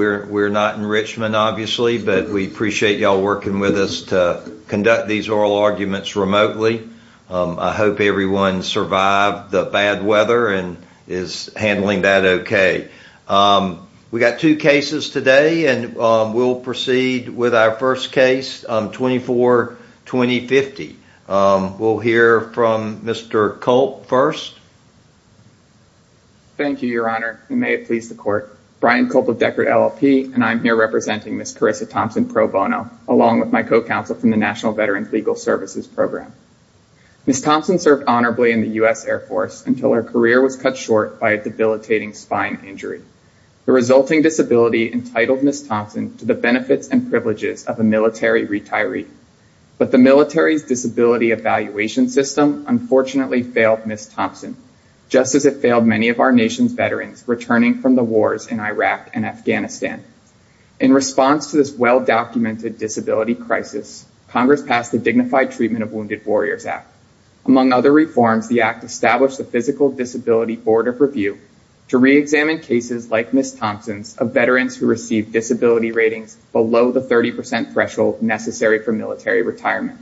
We're not in Richmond, obviously, but we appreciate y'all working with us to conduct these oral arguments remotely. I hope everyone survived the bad weather and is handling that okay. We got two cases today and we'll proceed with our first case, 24-2050. We'll hear from Mr. Culp first. Brian Culp Thank you, Your Honor. May it please the court. Brian Culp of Deckard LLP and I'm here representing Ms. Carissa Thompson pro bono along with my co-counsel from the National Veterans Legal Services Program. Ms. Thompson served honorably in the U.S. Air Force until her career was cut short by a debilitating spine injury. The resulting disability entitled Ms. Thompson to the benefits and privileges of a military retiree. But the military's disability evaluation system unfortunately failed Ms. Thompson, just as it failed many of our nation's veterans returning from the wars in Iraq and Afghanistan. In response to this well-documented disability crisis, Congress passed the Dignified Treatment of Wounded Warriors Act. Among other reforms, the act established the Physical Disability Board of Review to reexamine cases like Ms. Thompson's of veterans who received disability ratings below the 30% threshold necessary for military retirement.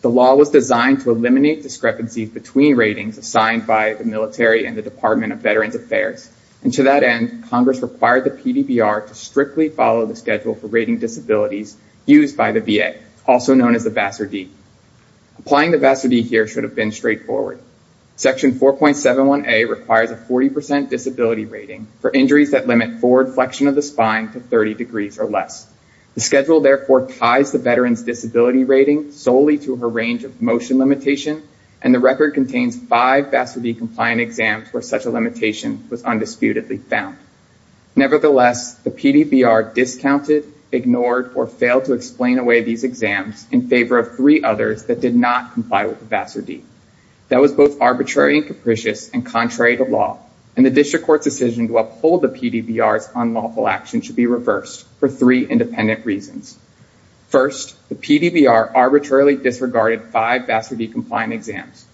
The law was designed to eliminate discrepancies between ratings assigned by the military and the Department of Veterans Affairs. And to that end, Congress required the PDBR to strictly follow the schedule for rating disabilities used by the VA, also known as the VASRD. Applying the VASRD here should have been straightforward. Section 4.71a requires a 40% disability rating for injuries that limit forward flexion of the spine to 30 degrees or less. The schedule therefore ties the veteran's disability rating solely to her range of motion limitation, and the record contains five VASRD-compliant exams where such a limitation was undisputedly found. Nevertheless, the PDBR discounted, ignored, or failed to explain away these exams in favor of three others that did not comply with the VASRD. That was both arbitrary and capricious and contrary to law, and the district court's decision to uphold the PDBR's unlawful action should be reversed for three independent reasons. First, the PDBR arbitrarily disregarded five VASRD-compliant exams.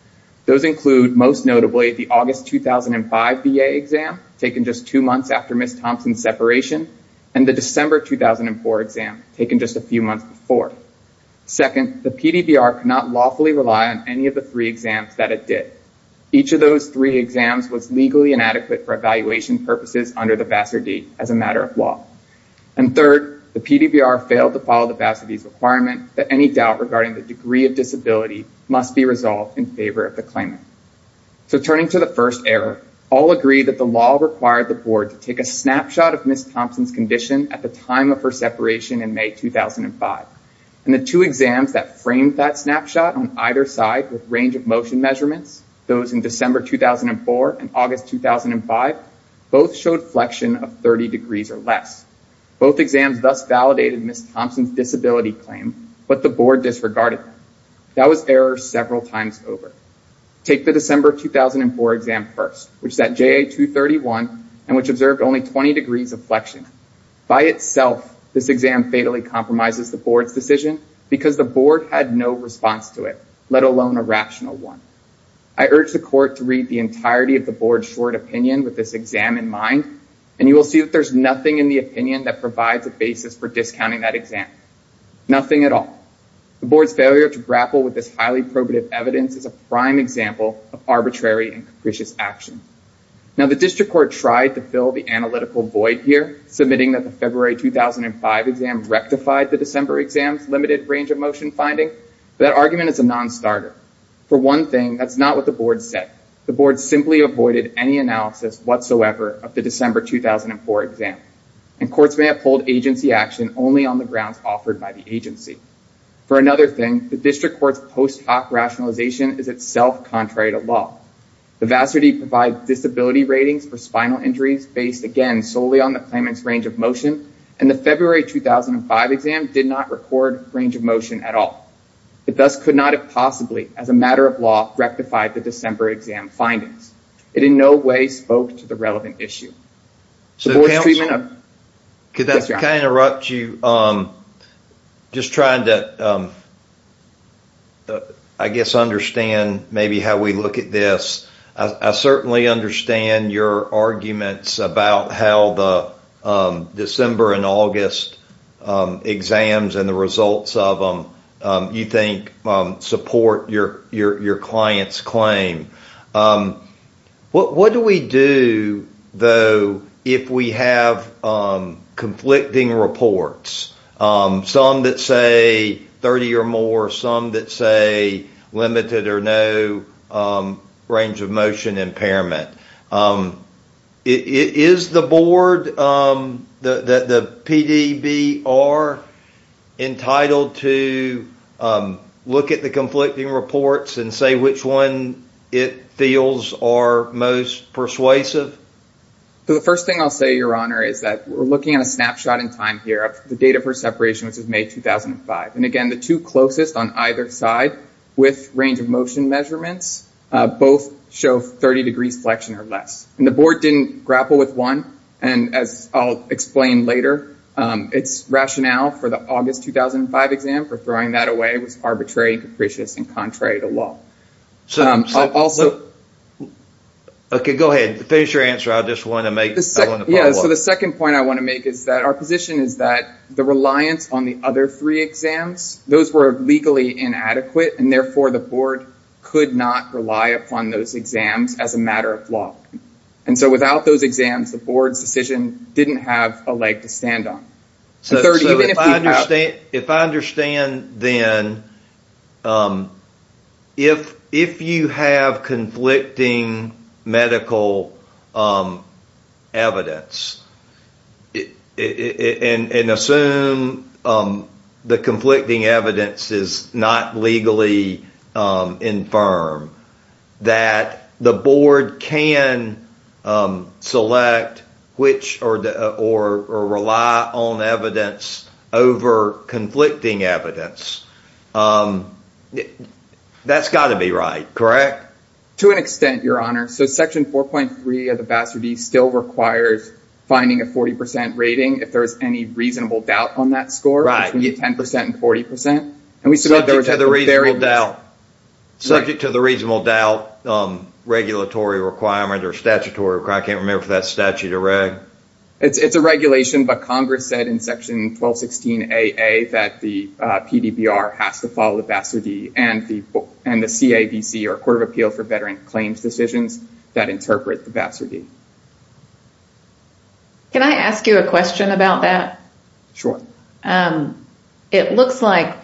Those include, most notably, the August 2005 VA exam, taken just two months after Ms. Thompson's separation, and the December 2004 exam, taken just a few months before. Second, the PDBR could not lawfully rely on any of the three exams that did. Each of those three exams was legally inadequate for evaluation purposes under the VASRD as a matter of law. And third, the PDBR failed to follow the VASRD's requirement that any doubt regarding the degree of disability must be resolved in favor of the claimant. So turning to the first error, all agree that the law required the board to take a snapshot of Ms. Thompson's condition at the time of her separation in May 2005, and the two exams that framed that snapshot on either side with range of motion measurements, those in December 2004 and August 2005, both showed flexion of 30 degrees or less. Both exams thus validated Ms. Thompson's disability claim, but the board disregarded them. That was error several times over. Take the December 2004 exam first, which set JA231 and which observed only 20 degrees of flexion. By itself, this exam fatally compromises the board's decision because the board had no response to it, let alone a rational one. I urge the court to read the entirety of the board's short opinion with this exam in mind, and you will see that there's nothing in the opinion that provides a basis for discounting that exam, nothing at all. The board's failure to grapple with this highly probative evidence is a prime example of arbitrary and capricious action. Now, the district court tried to fill the analytical void here, submitting that the February 2005 exam rectified the December exam's limited range of motion finding, but that argument is a non-starter. For one thing, that's not what the board said. The board simply avoided any analysis whatsoever of the December 2004 exam, and courts may uphold agency action only on the grounds offered by the agency. For another thing, the district court's post hoc rationalization is itself contrary to law. The vassity provides disability ratings for spinal motion, and the February 2005 exam did not record range of motion at all. It thus could not have possibly, as a matter of law, rectified the December exam findings. It in no way spoke to the relevant issue. The board's treatment of… Could I interrupt you? Just trying to, I guess, understand maybe how we look at this. I certainly understand your arguments about how the December and August exams and the results of them, you think, support your client's claim. What do we do, though, if we have conflicting reports? Some that say 30 or more, some that say limited or no range of motion impairment. Is the board, the PDBR, entitled to look at the conflicting reports and say which one it feels are most persuasive? The first thing I'll say, Your Honor, is that we're looking at a snapshot in time here of the which is May 2005. Again, the two closest on either side with range of motion measurements both show 30 degrees flexion or less. The board didn't grapple with one. As I'll explain later, its rationale for the August 2005 exam for throwing that away was arbitrary, capricious, and contrary to law. Go ahead. Finish your answer. I just want to make… The second point I want to make is that our position is that the reliance on the other three exams, those were legally inadequate and therefore the board could not rely upon those exams as a matter of law. Without those exams, the board's decision didn't have a leg to stand on. So, if I understand then, if you have conflicting medical evidence, and assume the conflicting evidence is not legally infirm, that the board can select which or rely on evidence over conflicting evidence, that's got to be right, correct? To an extent, Your Honor. So, Section 4.3 of the Bass Review still requires finding a 40% rating if there's any reasonable doubt on that score, between 10% and 40%. Subject to the reasonable doubt, regulatory requirement or statutory, I can't remember if that's statute or reg. It's a regulation, but Congress said in Section 1216AA that the PDBR has to follow the Bass Review and the CAVC or Court of Appeal for Veteran Claims Decisions that interpret the Bass Review. Can I ask you a question about that? Sure. It looks like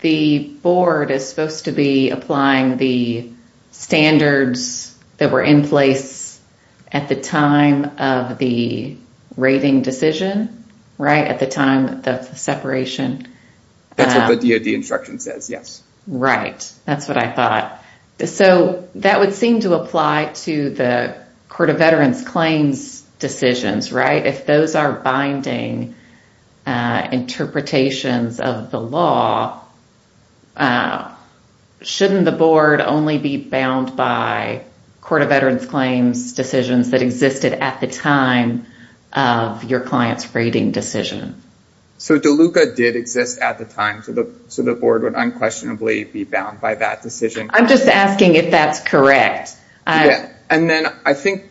the board is supposed to be applying the standards that were in place at the time of the rating decision, right? At the time of the separation. That's what the DOD instruction says, yes. Right. That's what I thought. So, that would seem to apply to the Court of Veterans Claims Decisions, right? If those are binding interpretations of the law, shouldn't the board only be bound by Court of Veterans Claims Decisions that existed at the time of your client's rating decision? So, DeLuca did exist at the time, so the board would unquestionably be bound by that decision. I'm just asking if that's correct. And then I think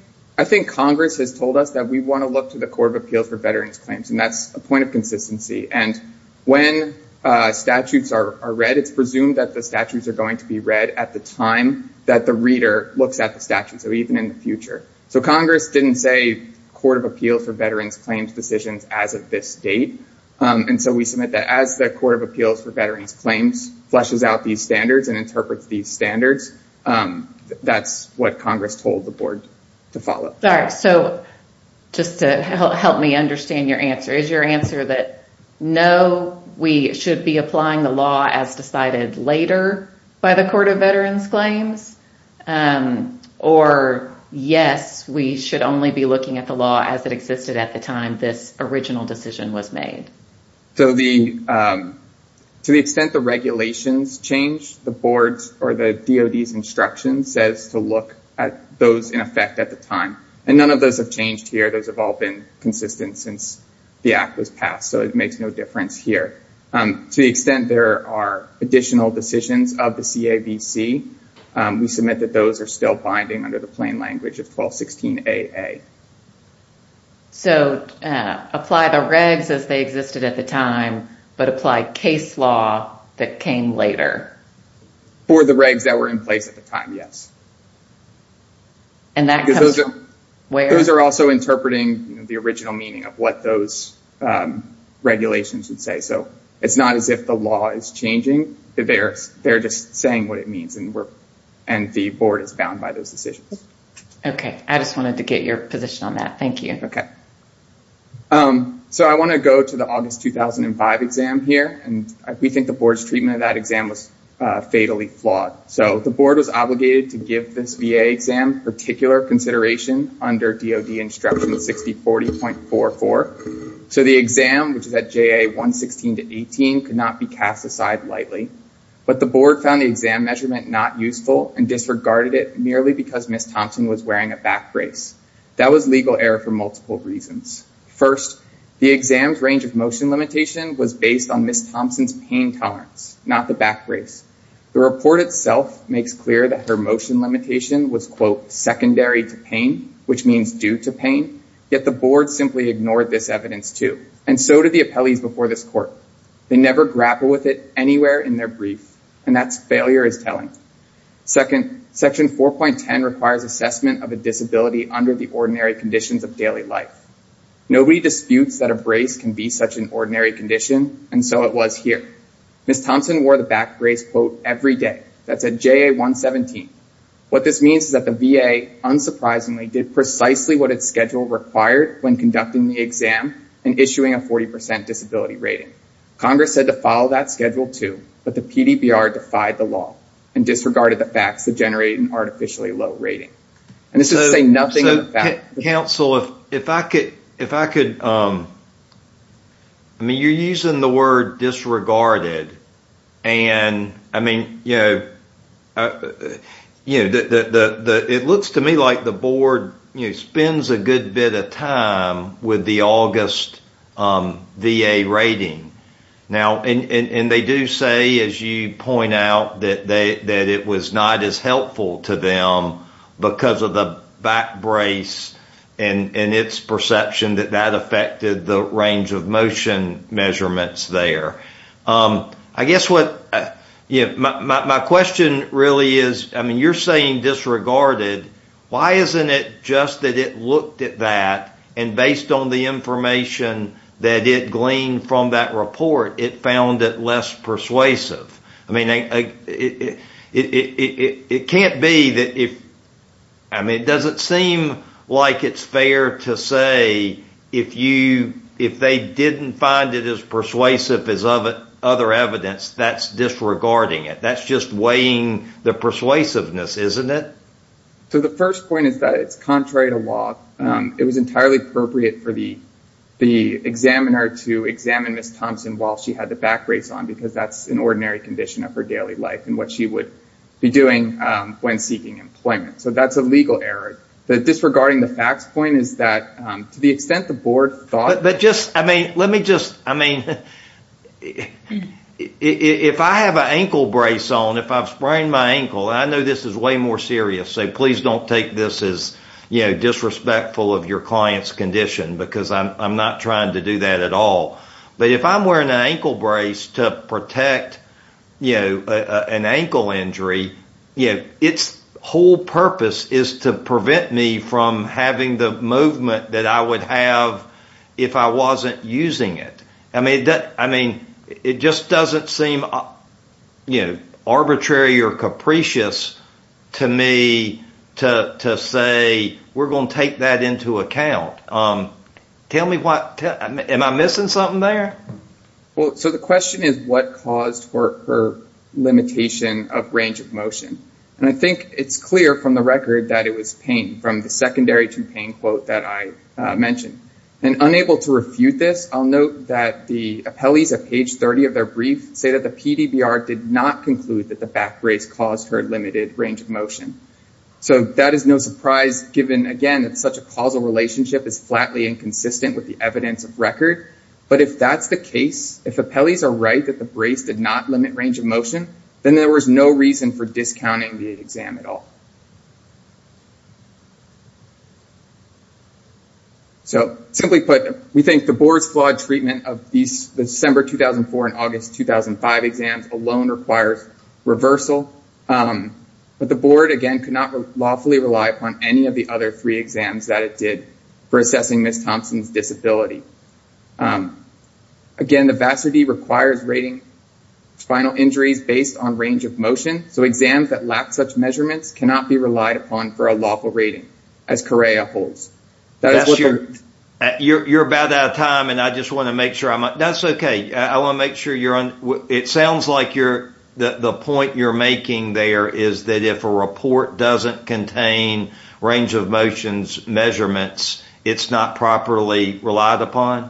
Congress has told us that we want to look to the Court of Appeals for Veterans Claims, and that's a point of consistency. And when statutes are read, it's presumed that the statutes are going to be read at the time that the reader looks at the statute, so even in the future. So, Congress didn't say Court of Appeals for Veterans Claims Decisions as of this date, and so we submit that as the Court of Appeals for Veterans Claims interprets these standards. That's what Congress told the board to follow. All right. So, just to help me understand your answer, is your answer that, no, we should be applying the law as decided later by the Court of Veterans Claims, or yes, we should only be looking at the law as it existed at the time this original decision was made? So, to the extent the regulations change, the board's or the DOD's instruction says to look at those in effect at the time, and none of those have changed here. Those have all been consistent since the Act was passed, so it makes no difference here. To the extent there are additional decisions of the CAVC, we submit that those are still binding under the plain language of 1216AA. So, apply the regs as they existed at the time, but apply case law that came later? For the regs that were in place at the time, yes. And that comes from where? Those are also interpreting the original meaning of what those regulations would say, so it's not as if the law is changing. They're just saying what it means, and the board is bound by those decisions. Okay. I just wanted to get your position on that. Thank you. Okay. So, I want to go to the August 2005 exam here, and we think the board's treatment of that exam was fatally flawed. So, the board was obligated to give this VA exam particular consideration under DOD instruction of 6040.44. So, the exam, which is at JA 116-18, could not be cast aside lightly, but the board found the exam measurement not useful and disregarded it merely because Ms. Thompson was wearing a back brace. That was legal error for multiple reasons. First, the exam's range of motion limitation was based on Ms. Thompson's pain tolerance, not the back brace. The report itself makes clear that her motion limitation was, quote, secondary to pain, which means due to pain, yet the board simply ignored this evidence too, and so did the appellees before this court. They never grappled with it anywhere in their brief, and that's failure is telling. Second, section 4.10 requires assessment of a disability under the ordinary conditions of daily life. Nobody disputes that a brace can be such an ordinary condition, and so it was here. Ms. Thompson wore the back brace, quote, every day. That's at JA 117. What this means is that the VA, unsurprisingly, did precisely what its schedule required when conducting the exam and issuing a 40% disability rating. Congress said to follow that schedule too, but the PDPR defied the law and disregarded the facts to generate an artificially low rating, and this would say nothing of the fact. Counsel, if I could, I mean, you're using the word disregarded, and I mean, you know, it looks to me like the board spends a good bit of time with the August VA rating, now, and they do say, as you point out, that it was not as helpful to them because of the back brace and its perception that that affected the range of motion measurements there. I guess what, you know, my question really is, I mean, you're saying disregarded. Why isn't it just that it looked at that, and based on the information that it gleaned from that report, it found it less persuasive? I mean, it can't be that if, I mean, it doesn't seem like it's fair to say if you, if they didn't find it as persuasive as other evidence, that's disregarding it. That's just weighing the persuasiveness, isn't it? So the first point is that it's contrary to law. It was entirely appropriate for the examiner to examine Ms. Thompson while she had the back brace on because that's an ordinary condition of her daily life and what she would be doing when seeking employment. So that's a legal error. The disregarding the facts point is that, to the extent the board thought— But just, I mean, let me just, I mean, if I have an ankle brace on, if I've sprained my ankle, I know this is way more serious, so please don't take this as disrespectful of your client's condition because I'm not trying to do that at all. But if I'm wearing an ankle brace to protect an ankle injury, its whole purpose is to prevent me from having the movement that I would have if I wasn't using it. I mean, that, I mean, it just doesn't seem, you know, arbitrary or capricious to me to say we're going to take that into account. Tell me what, am I missing something there? Well, so the question is what caused her limitation of range of motion? And I think it's clear from the record that it was pain, from the secondary to pain quote that I mentioned. And unable to refute this, I'll note that the appellees at page 30 of their brief say that the PDBR did not conclude that the back brace caused her limited range of motion. So that is no surprise given, again, that such a causal relationship is flatly inconsistent with the evidence of record. But if that's the case, if appellees are right that the brace did not limit range of motion, then there was no reason for discounting the exam at all. So simply put, we think the board's flawed treatment of these December 2004 and August 2005 exams alone requires reversal. But the board, again, could not lawfully rely upon any of the other three exams that it did for assessing Ms. Thompson's disability. Again, the VASRD requires rating spinal injuries based on range of motion. So exams that lack such measurements cannot be relied upon for a lawful rating, as Correa holds. You're about out of time, and I just want to make sure I'm, that's okay. I want to make sure you're on, it sounds like you're, the point you're making there is that if a report doesn't contain range of motions measurements, it's not properly relied upon?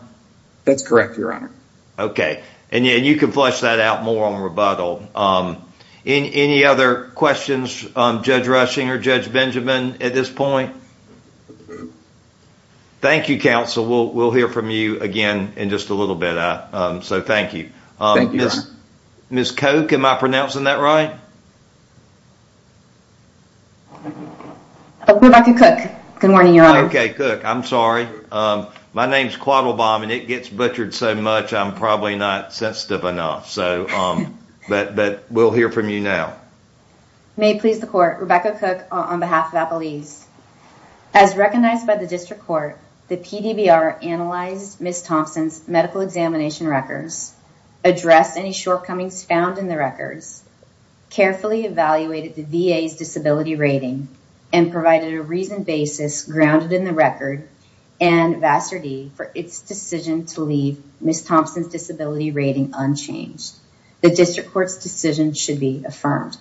That's correct, your honor. Okay, and you can flesh that out more on rebuttal. Any other questions, Judge Rushing or Judge Benjamin, at this point? Thank you, counsel. We'll hear from you again in just a little bit. So thank you. Ms. Koch, am I pronouncing that right? Good morning, your honor. Okay, Koch, I'm sorry. My name's Quattlebaum, and it gets butchered so much I'm probably not sensitive enough, so, but we'll hear from you now. May it please the court, Rebecca Koch on behalf of Apple East. As recognized by the district court, the PDBR analyzed Ms. Thompson's medical examination records, addressed any shortcomings found in the records, carefully evaluated the VA's disability rating, and provided a reasoned basis grounded in the record and Vassar D for its decision to leave Ms. Thompson's disability rating unchanged. The district court's decision should be affirmed.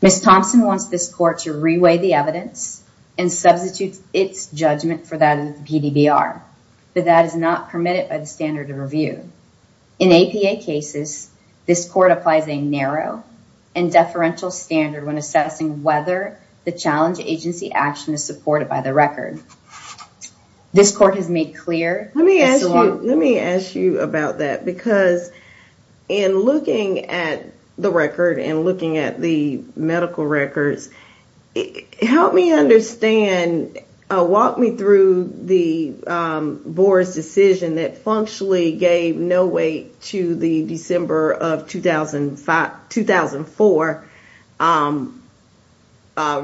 Ms. Thompson wants this court to reweigh the evidence and substitute its judgment for that of the PDBR, but that is not permitted by the standard of review. In APA cases, this court applies a narrow and deferential standard when assessing whether the challenge agency action is supported by the record. This court has made clear- Let me ask you, let me ask you about that, because in looking at the record and looking at the medical records, help me understand, walk me through the board's decision that functionally gave no weight to the December of 2005, 2004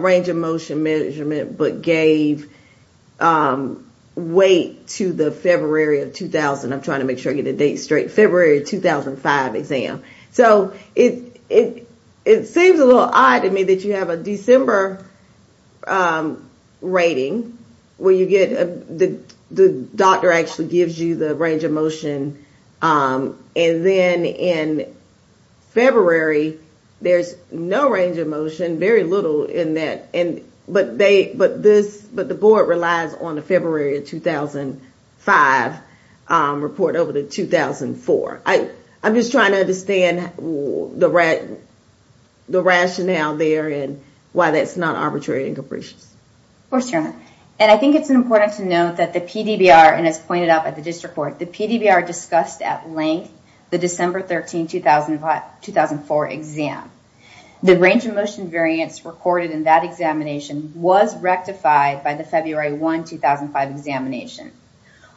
range of motion measurement, but gave weight to the February of 2000, I'm trying to make sure I get the date straight, February 2005 exam. So it seems a little odd to me that you have a December rating where you get, the doctor actually gives you the range of motion, and then in February, there's no range of motion, very little in that, but the board relies on the February of 2005 report over the 2004. I'm just trying to understand the rationale there and why that's not arbitrary and capricious. Of course, Your Honor, and I think it's important to note that the PDBR, and as pointed out by the district court, the PDBR discussed at length the December 13, 2004 exam. The range of motion variance recorded in that examination was rectified by the February 1, 2005 examination.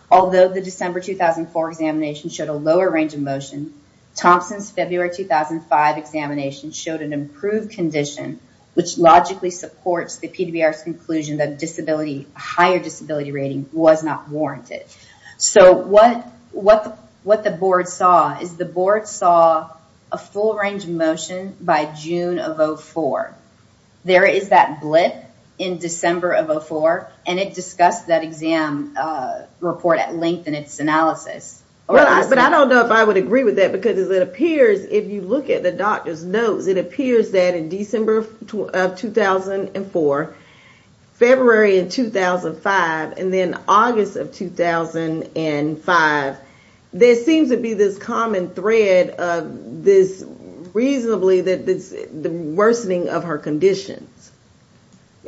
Although the December 2004 examination showed a lower range of motion, Thompson's February 2005 examination showed an improved condition, which logically supports the PDBR's conclusion that higher disability rating was not warranted. So what the board saw is the board saw a full range of motion by June of 2004. There is that blip in December of 2004, and it discussed that exam report at length in its analysis. But I don't know if I would agree with that, because it appears, if you look at the doctor's notes, it appears that in December of 2004, February in 2005, and then August of 2005, there seems to be this common thread of this, reasonably, the worsening of her conditions.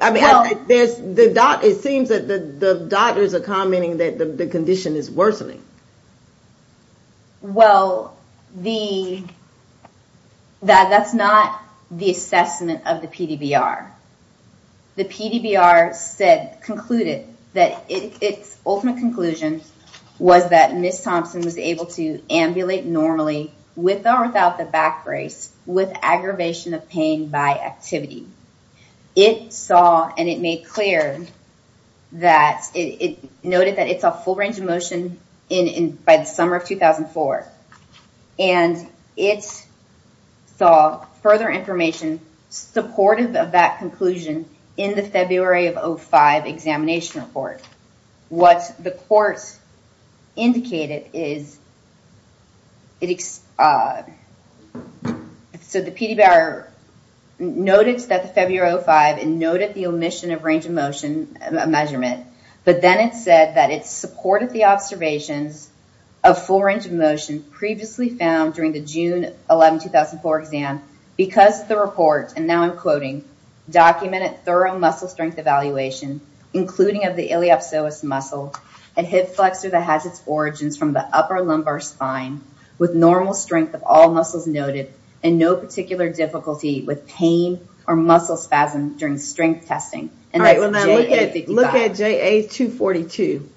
It seems that the doctors are commenting that the condition is worsening. Well, that's not the assessment of the PDBR. The PDBR concluded that its ultimate conclusion was that Ms. Thompson was able to ambulate normally with or without the back brace with aggravation of pain by activity. It saw and it made clear that it noted that it's a full range of motion by the summer of 2004. And it saw further information supportive of that conclusion in the February of 05 examination report. What the courts indicated is, so the PDBR noticed that the February 05 and noted the omission of range of motion measurement. But then it said that it supported the observations of full range of motion previously found during the June 11, 2004 exam, because the report, and now I'm quoting, documented thorough muscle strength evaluation, including of the iliopsoas muscle, a hip flexor that has its origins from the upper lumbar spine, with normal strength of all muscles noted, and no particular difficulty with pain or muscle spasm during strength testing. All right, well now look at JA 242.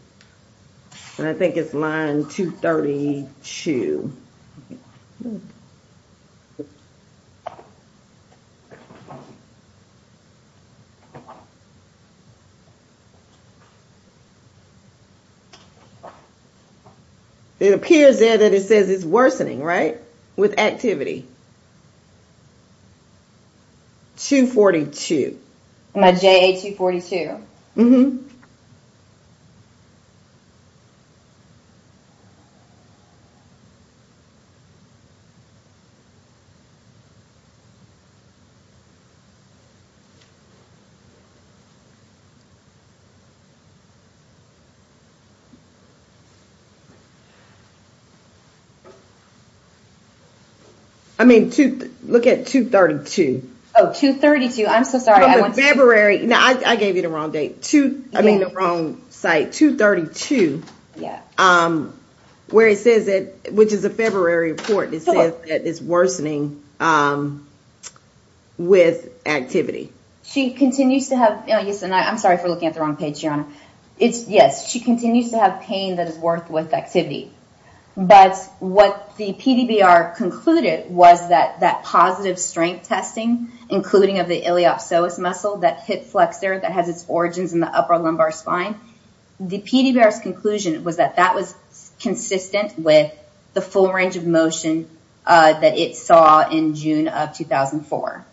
And I think it's line 232. It appears there that it says it's worsening, right? With activity. 242. My JA 242? Mm-hmm. Look at 232. Oh, 232. I'm so sorry. From the February... No, I gave you the wrong date. I mean the wrong site. 232, where it says it, which is a February report, it says that it's worsening with activity. She continues to have... Yes, and I'm sorry for looking at the wrong page, Your Honor. Yes, she continues to have pain that is worse with activity. But what the PDBR concluded was that that positive strength testing, including of the iliopsoas muscle, that hip flexor that has its origins in the upper lumbar spine, the PDBR's conclusion was that that was consistent with the full range of motion that it saw in June of 2004.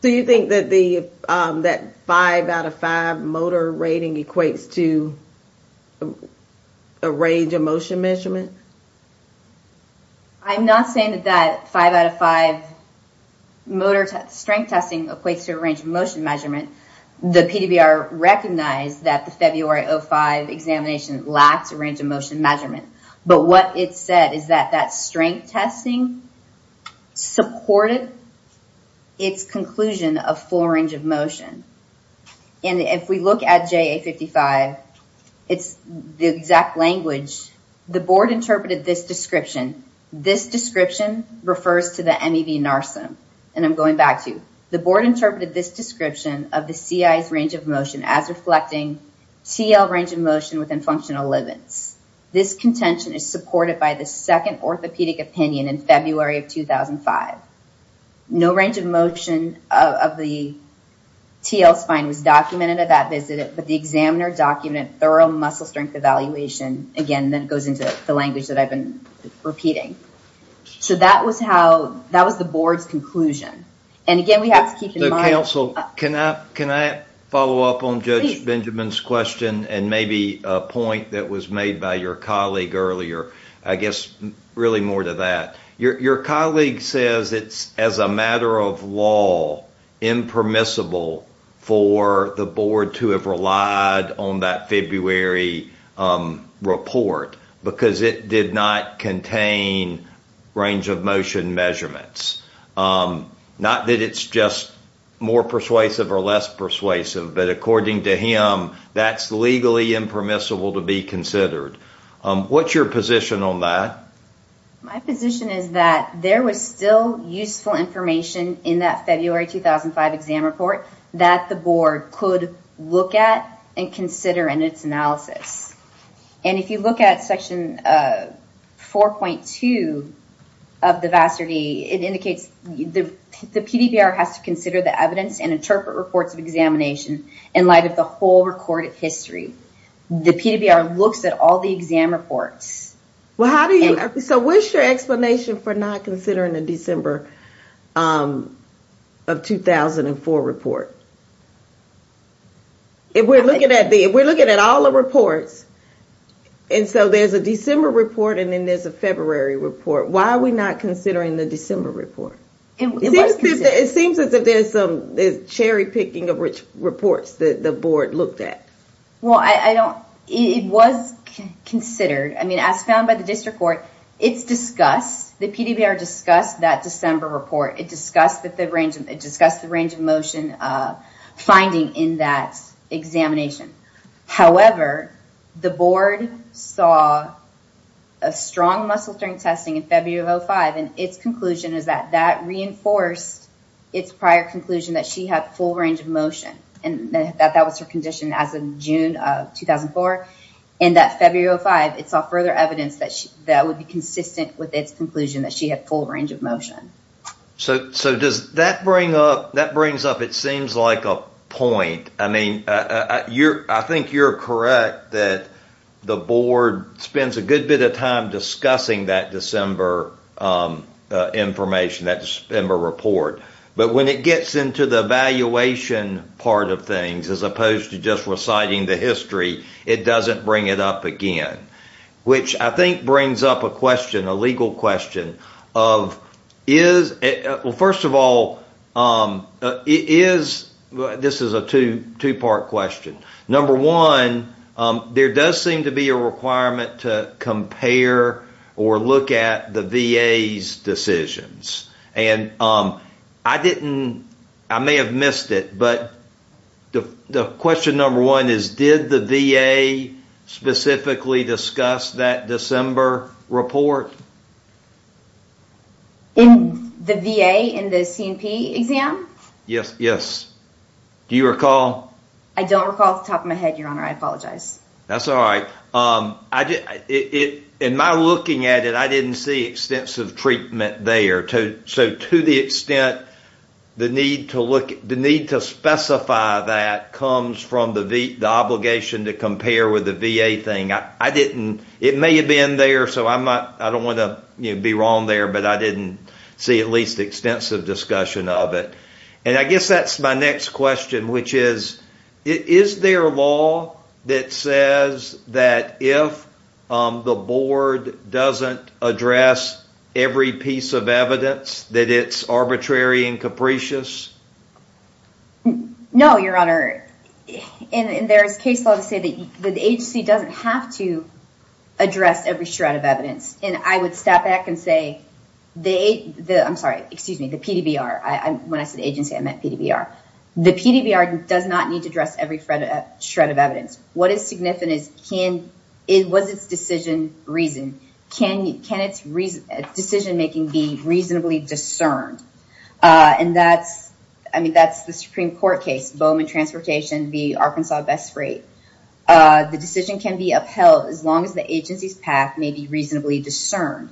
So you think that five out of five motor rating equates to a range of motion measurement? I'm not saying that that five out of five motor strength testing equates to a range of motion measurement. The PDBR recognized that the February 05 examination lacked a range of motion measurement. But what it said is that that strength testing supported its conclusion of full range of motion. And if we look at JA 55, it's the exact language. The board interpreted this description. This description refers to the MEV NARSIM. And I'm going back to, the board interpreted this description of the CI's range of motion as reflecting TL range of motion within functional limits. This contention is supported by the second orthopedic opinion in February of 2005. No range of motion of the TL spine was documented at that visit, but the examiner documented thorough muscle strength evaluation. Again, that goes into the language that I've been repeating. So that was the board's conclusion. And again, we have to keep in mind- So counsel, can I follow up on Judge Benjamin's question and maybe a point that was made by your colleague earlier? I guess really more to that. Your colleague says it's as a matter of law, impermissible for the board to have relied on that February report because it did not contain range of motion measurements. Not that it's just more persuasive or less persuasive, but according to him, that's legally impermissible to be considered. What's your position on that? My position is that there was still useful information in that February 2005 exam report that the board could look at and consider in its analysis. And if you look at section 4.2 of the VASRD, it indicates the PDBR has to consider the evidence and interpret reports of examination in light of the whole recorded history. The PDBR looks at all the exam reports. Well, how do you... So what's your explanation for not considering the December of 2004 report? If we're looking at all the reports and so there's a December report and then there's a February report, why are we not considering the December report? It seems as if there's cherry picking of which reports the board looked at. Well, it was considered. I mean, as found by the district court, it's discussed. The PDBR discussed that December report. It discussed the range of motion finding in that examination. However, the board saw a strong muscle during testing in February 2005 and its conclusion is that that reinforced its prior conclusion that she had full range of motion and that that was her condition as of June of 2004. And that February 2005, it saw further evidence that would be consistent with its conclusion that she had full range of motion. So does that bring up... That brings up, it seems like a point. I mean, I think you're correct that the board spends a good bit of time discussing that December information, that December report. But when it gets into the evaluation part of things, as opposed to just reciting the history, it doesn't bring it up again, which I think brings up a question, a legal question of is... Well, first of all, is... This is a two-part question. Number one, there does seem to be a requirement to compare or look at the VA's decisions. And I didn't... I may have missed it, but the question number one is did the VA specifically discuss that December report? In the VA, in the C&P exam? Yes, yes. Do you recall? I don't recall off the top of my head, your honor. I apologize. That's all right. In my looking at it, I didn't see extensive treatment there. So to the extent the need to look... comes from the obligation to compare with the VA thing. I didn't... It may have been there, so I don't want to be wrong there, but I didn't see at least extensive discussion of it. And I guess that's my next question, which is, is there a law that says that if the board doesn't address every piece of evidence that it's arbitrary and capricious? No, your honor. And there's case law to say that the agency doesn't have to address every shred of evidence. And I would step back and say the... I'm sorry, excuse me, the PDBR. When I said agency, I meant PDBR. The PDBR does not need to address every shred of evidence. What is significant is, was its decision reasoned? Can its decision making be reasonably discerned? And that's the Supreme Court case, Bowman Transportation v. Arkansas Best Freight. The decision can be upheld as long as the agency's path may be reasonably discerned.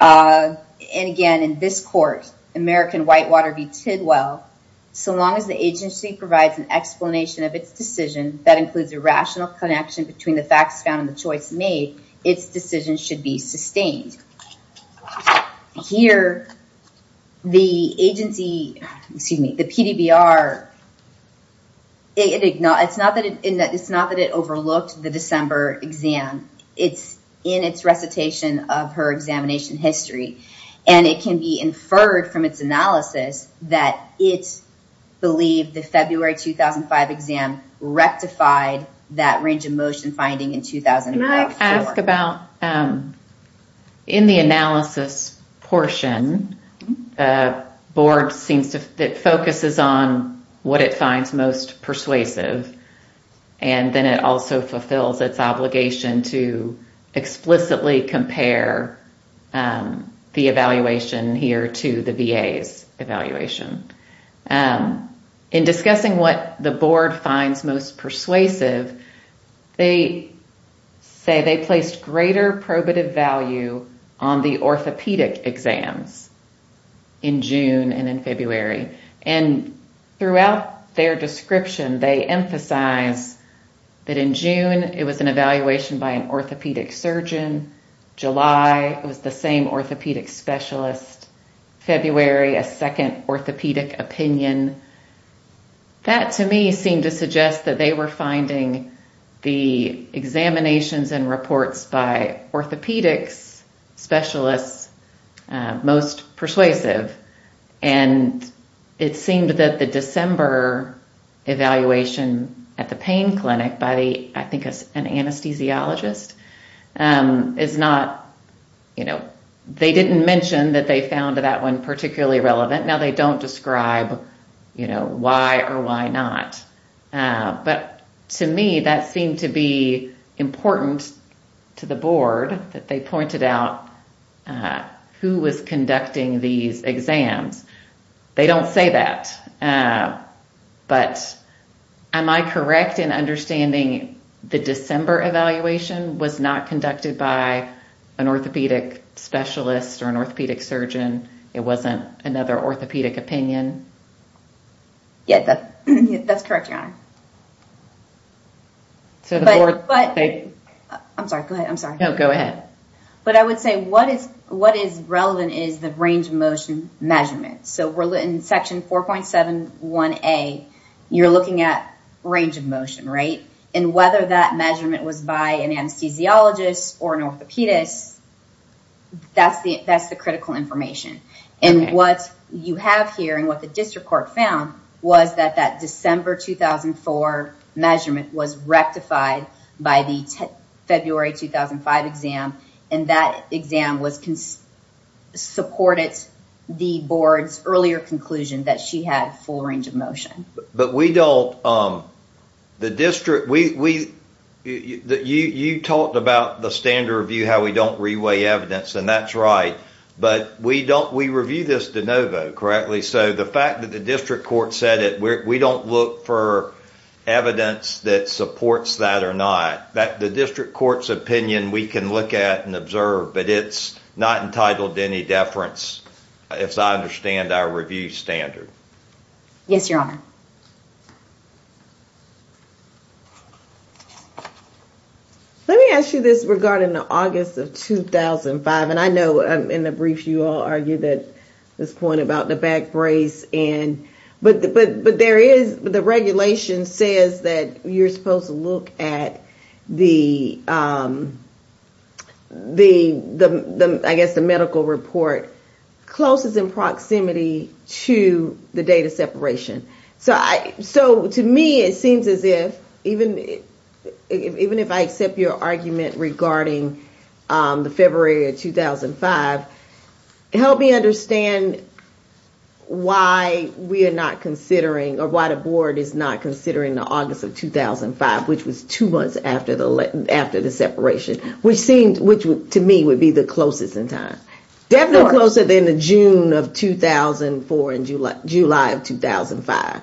And again, in this court, American Whitewater v. Tidwell, so long as the agency provides an explanation of its decision that includes a rational connection between the facts found and the choice made, its decision should be sustained. Here, the PDBR, it's not that it overlooked the December exam. It's in its recitation of her examination history. And it can be inferred from its analysis that it believed the February 2005 exam rectified that range of motion finding in 2005. Can I ask about, in the analysis portion, the board seems to... It focuses on what it finds most persuasive. And then it also fulfills its obligation to explicitly compare the evaluation here to the VA's evaluation. In discussing what the board finds most persuasive, they say they placed greater probative value on the orthopedic exams in June and in February. And throughout their description, they emphasize that in June, it was an evaluation by an orthopedic surgeon. July, it was the same orthopedic specialist. February, a second orthopedic opinion. That, to me, seemed to suggest that they were finding the examinations and reports by orthopedics specialists most persuasive. And it seemed that the December evaluation at the pain clinic by, I think, an anesthesiologist is not... They didn't mention that they found that one particularly relevant. Now, they don't describe why or why not. But to me, that seemed to be important to the board, that they pointed out who was conducting these exams. They don't say that. But am I correct in understanding the December evaluation was not conducted by an orthopedic specialist or an orthopedic surgeon? It wasn't another orthopedic opinion? Yeah, that's correct, Your Honor. So the board... I'm sorry. Go ahead. I'm sorry. No, go ahead. But I would say what is relevant is the range of motion measurement. So in Section 4.71A, you're looking at range of motion, right? And whether that measurement was by an anesthesiologist or an orthopedist, that's the critical information. And what you have here and what the district court found was that that December 2004 measurement was rectified by the February 2005 exam, and that exam supported the board's earlier conclusion that she had full range of motion. But we don't... The district... You talked about the standard review, how we don't reweigh evidence, and that's right. But we don't... We review this de novo, correctly. So the fact that the district court said it, we don't look for evidence that supports that or not. The district court's opinion, we can look at and observe, but it's not entitled to any deference as I understand our review standard. Yes, Your Honor. Let me ask you this regarding the August of 2005. And I know in the brief, you all argued that this point about the back brace and... But there is... The regulation says that you're supposed to look at the, I guess, the medical report closest in proximity to the data separation. So to me, it seems as if even if I accept your argument regarding the February of 2005, help me understand why we are not considering or why the board is not considering the August of 2005, which was two months after the separation, which seemed... Which to me would be the closest in time. Definitely closer than the June of 2004 and July of 2005.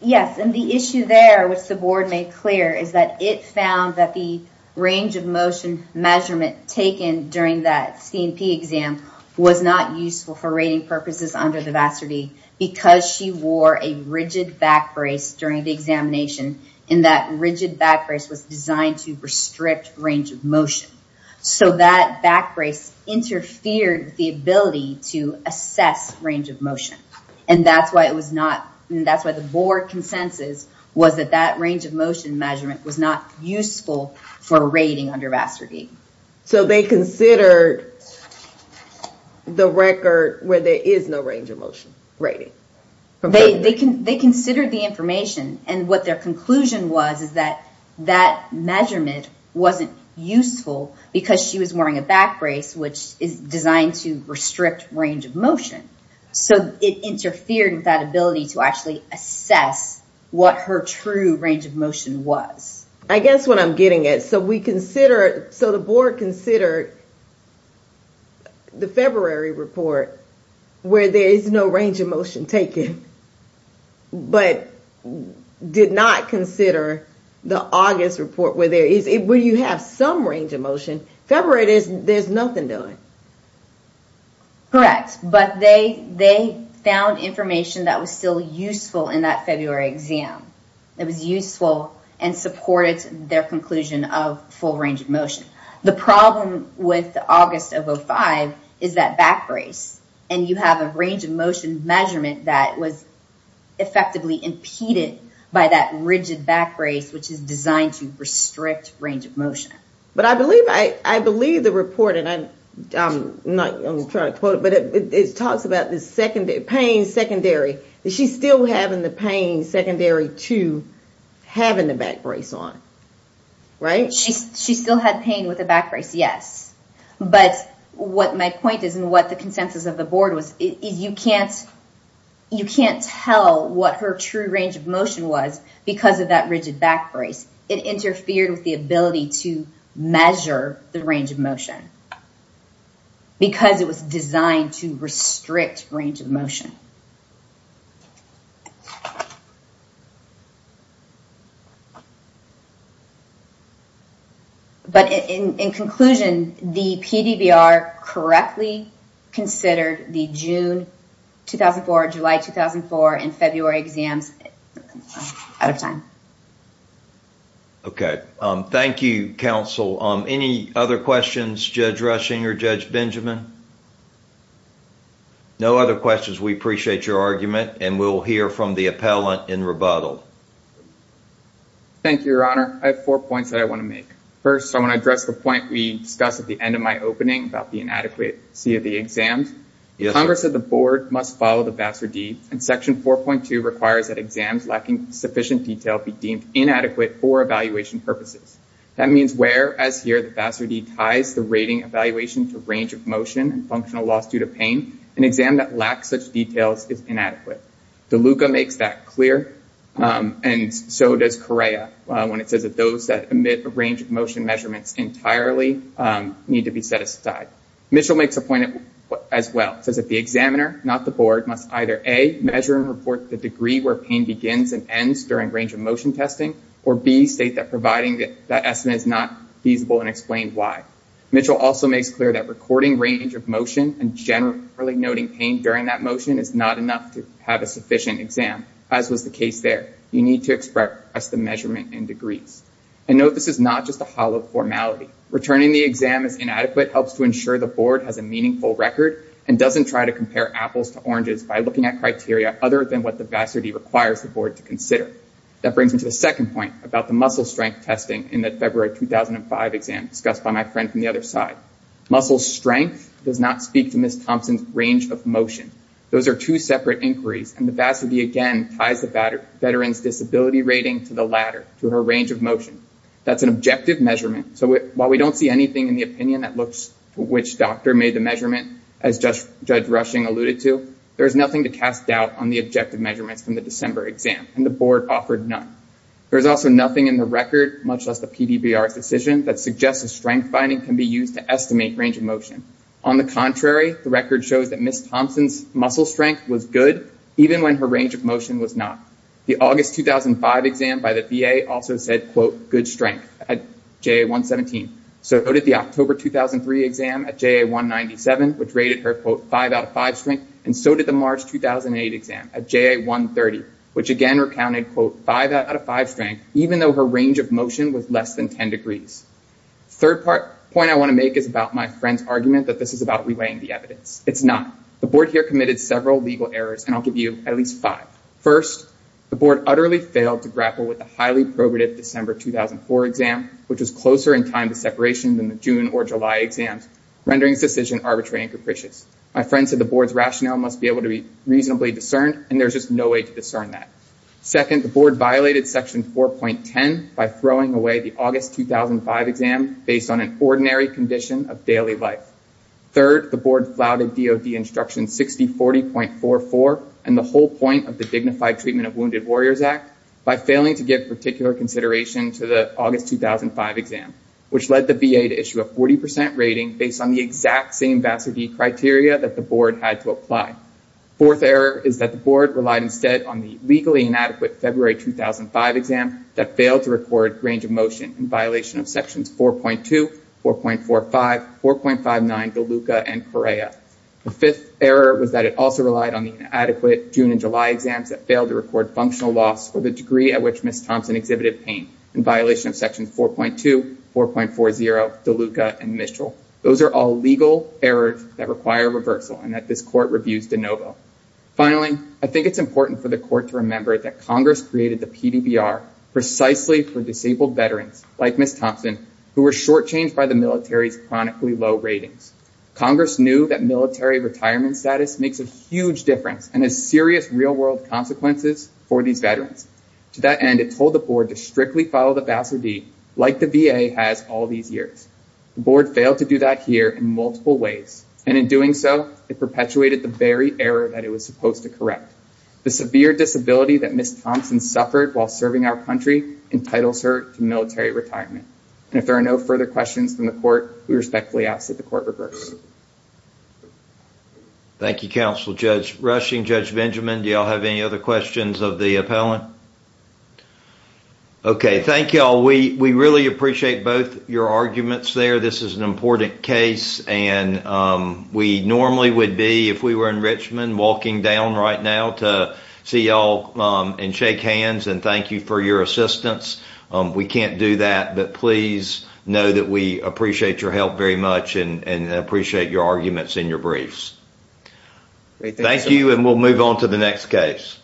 Yes. And the issue there, which the board made clear, is that it found that the range of motion measurement taken during that C&P exam was not useful for rating purposes under the vastity because she wore a rigid back brace during the examination. And that rigid back brace was designed to restrict range of motion. So that back brace interfered with the ability to assess range of motion. And that's why it was not... And that's why the board consensus was that that range of motion measurement was not useful for rating under Vassargate. So they considered the record where there is no range of motion rating? They considered the information. And what their conclusion was is that that measurement wasn't useful because she was wearing a back brace, which is designed to restrict range of motion. So it interfered with that ability to actually assess what her true range of motion was. I guess what I'm getting at. So we consider... So the board considered the February report where there is no range of motion taken, but did not consider the August report where you have some range of motion. February, there's nothing done. Correct. But they found information that was still useful in that February exam. It was useful and supported their conclusion of full range of motion. The problem with August of 05 is that back brace. And you have a range of motion measurement that was effectively impeded by that rigid back brace, which is designed to restrict range of motion. But I believe the report, and I'm not going to try to quote it, but it talks about the pain secondary. Is she still having the pain secondary to having the back brace on? Right? She still had pain with the back brace, yes. But what my point is, and what the consensus of the board was, is you can't tell what her true range of motion was because of that rigid back brace. It interfered with the ability to measure the range of motion because it was designed to restrict range of motion. But in conclusion, the PDBR correctly considered the June 2004, July 2004, and February exams out of time. Okay. Thank you, counsel. Any other questions, Judge Rushing or Judge Benjamin? No other questions. We appreciate it. Thank you. And we'll hear from the appellant in rebuttal. Thank you, Your Honor. I have four points that I want to make. First, I want to address the point we discussed at the end of my opening about the inadequacy of the exams. Congress of the board must follow the Vassar D and section 4.2 requires that exams lacking sufficient detail be deemed inadequate for evaluation purposes. That means where, as here, the Vassar D ties the rating evaluation to range of motion and functional loss due to pain, an exam that lacks such details is inadequate. DeLuca makes that clear, and so does Correa when it says that those that emit a range of motion measurements entirely need to be set aside. Mitchell makes a point as well, says that the examiner, not the board, must either A, measure and report the degree where pain begins and ends during range of motion testing, or B, state that providing that estimate is not feasible and explain why. Mitchell also makes clear that recording range of motion and generally noting pain during that motion is not enough to have a sufficient exam, as was the case there. You need to express the measurement in degrees. And note, this is not just a hollow formality. Returning the exam as inadequate helps to ensure the board has a meaningful record and doesn't try to compare apples to oranges by looking at criteria other than what the Vassar D requires the board to consider. That brings me to the second point about the muscle strength testing in the February 2005 exam discussed by my friend from the other side. Muscle strength does not speak to Ms. Thompson's range of motion. Those are two separate inquiries, and the Vassar D again ties the veteran's disability rating to the latter, to her range of motion. That's an objective measurement. So while we don't see anything in the opinion that looks to which doctor made the measurement, as Judge Rushing alluded to, there's nothing to cast doubt on the objective measurements from the December exam, and the board offered none. There's also nothing in the record, much less the PDBR's decision, that suggests that strength finding can be used to estimate range of motion. On the contrary, the record shows that Ms. Thompson's muscle strength was good, even when her range of motion was not. The August 2005 exam by the VA also said, quote, good strength at JA 117. So did the October 2003 exam at JA 197, which rated her, quote, five out of five strength, and so did the March 2008 exam at JA 130, which again recounted, quote, five out of five strength, even though her range of motion was less than 10 degrees. Third point I want to make is about my friend's argument that this is about reweighing the evidence. It's not. The board here committed several legal errors, and I'll give you at least five. First, the board utterly failed to grapple with the highly probative December 2004 exam, which was closer in time to separation than the June or July exams, rendering this decision arbitrary and capricious. My friend said the board's rationale must be able to be reasonably discerned, and there's just no way to discern that. Second, the board violated section 4.10 by throwing away the August 2005 exam based on an ordinary condition of daily life. Third, the board flouted DOD instruction 6040.44 and the whole point of the Dignified Treatment of Wounded Warriors Act by failing to give particular consideration to the August 2005 exam, which led the VA to issue a 40 percent rating based on the exact same VASA-D criteria that the board had to apply. Fourth error is that the board relied instead on the legally inadequate February 2005 exam that failed to record range of motion in violation of sections 4.2, 4.45, 4.59, DeLuca, and Correa. The fifth error was that it also relied on the inadequate June and July exams that failed to record functional loss for the degree at which Ms. Thompson exhibited pain in violation of sections 4.2, 4.40, DeLuca, and Mitchell. Those are all legal errors that require reversal and that this review is de novo. Finally, I think it's important for the court to remember that Congress created the PDBR precisely for disabled veterans like Ms. Thompson who were shortchanged by the military's chronically low ratings. Congress knew that military retirement status makes a huge difference and has serious real-world consequences for these veterans. To that end, it told the board to strictly follow the VASA-D like the VA has all these years. The board failed to do that here in multiple ways, and in doing so, it perpetuated the very error that it was supposed to correct. The severe disability that Ms. Thompson suffered while serving our country entitles her to military retirement, and if there are no further questions from the court, we respectfully ask that the court reverse. Thank you, Counsel Judge Rushing. Judge Benjamin, do y'all have any other questions of the appellant? Okay, thank y'all. We really appreciate both your arguments there. This is an important case and we normally would be, if we were in Richmond, walking down right now to see y'all and shake hands and thank you for your assistance. We can't do that, but please know that we appreciate your help very much and appreciate your arguments in your briefs. Thank you and we'll move on to the next case.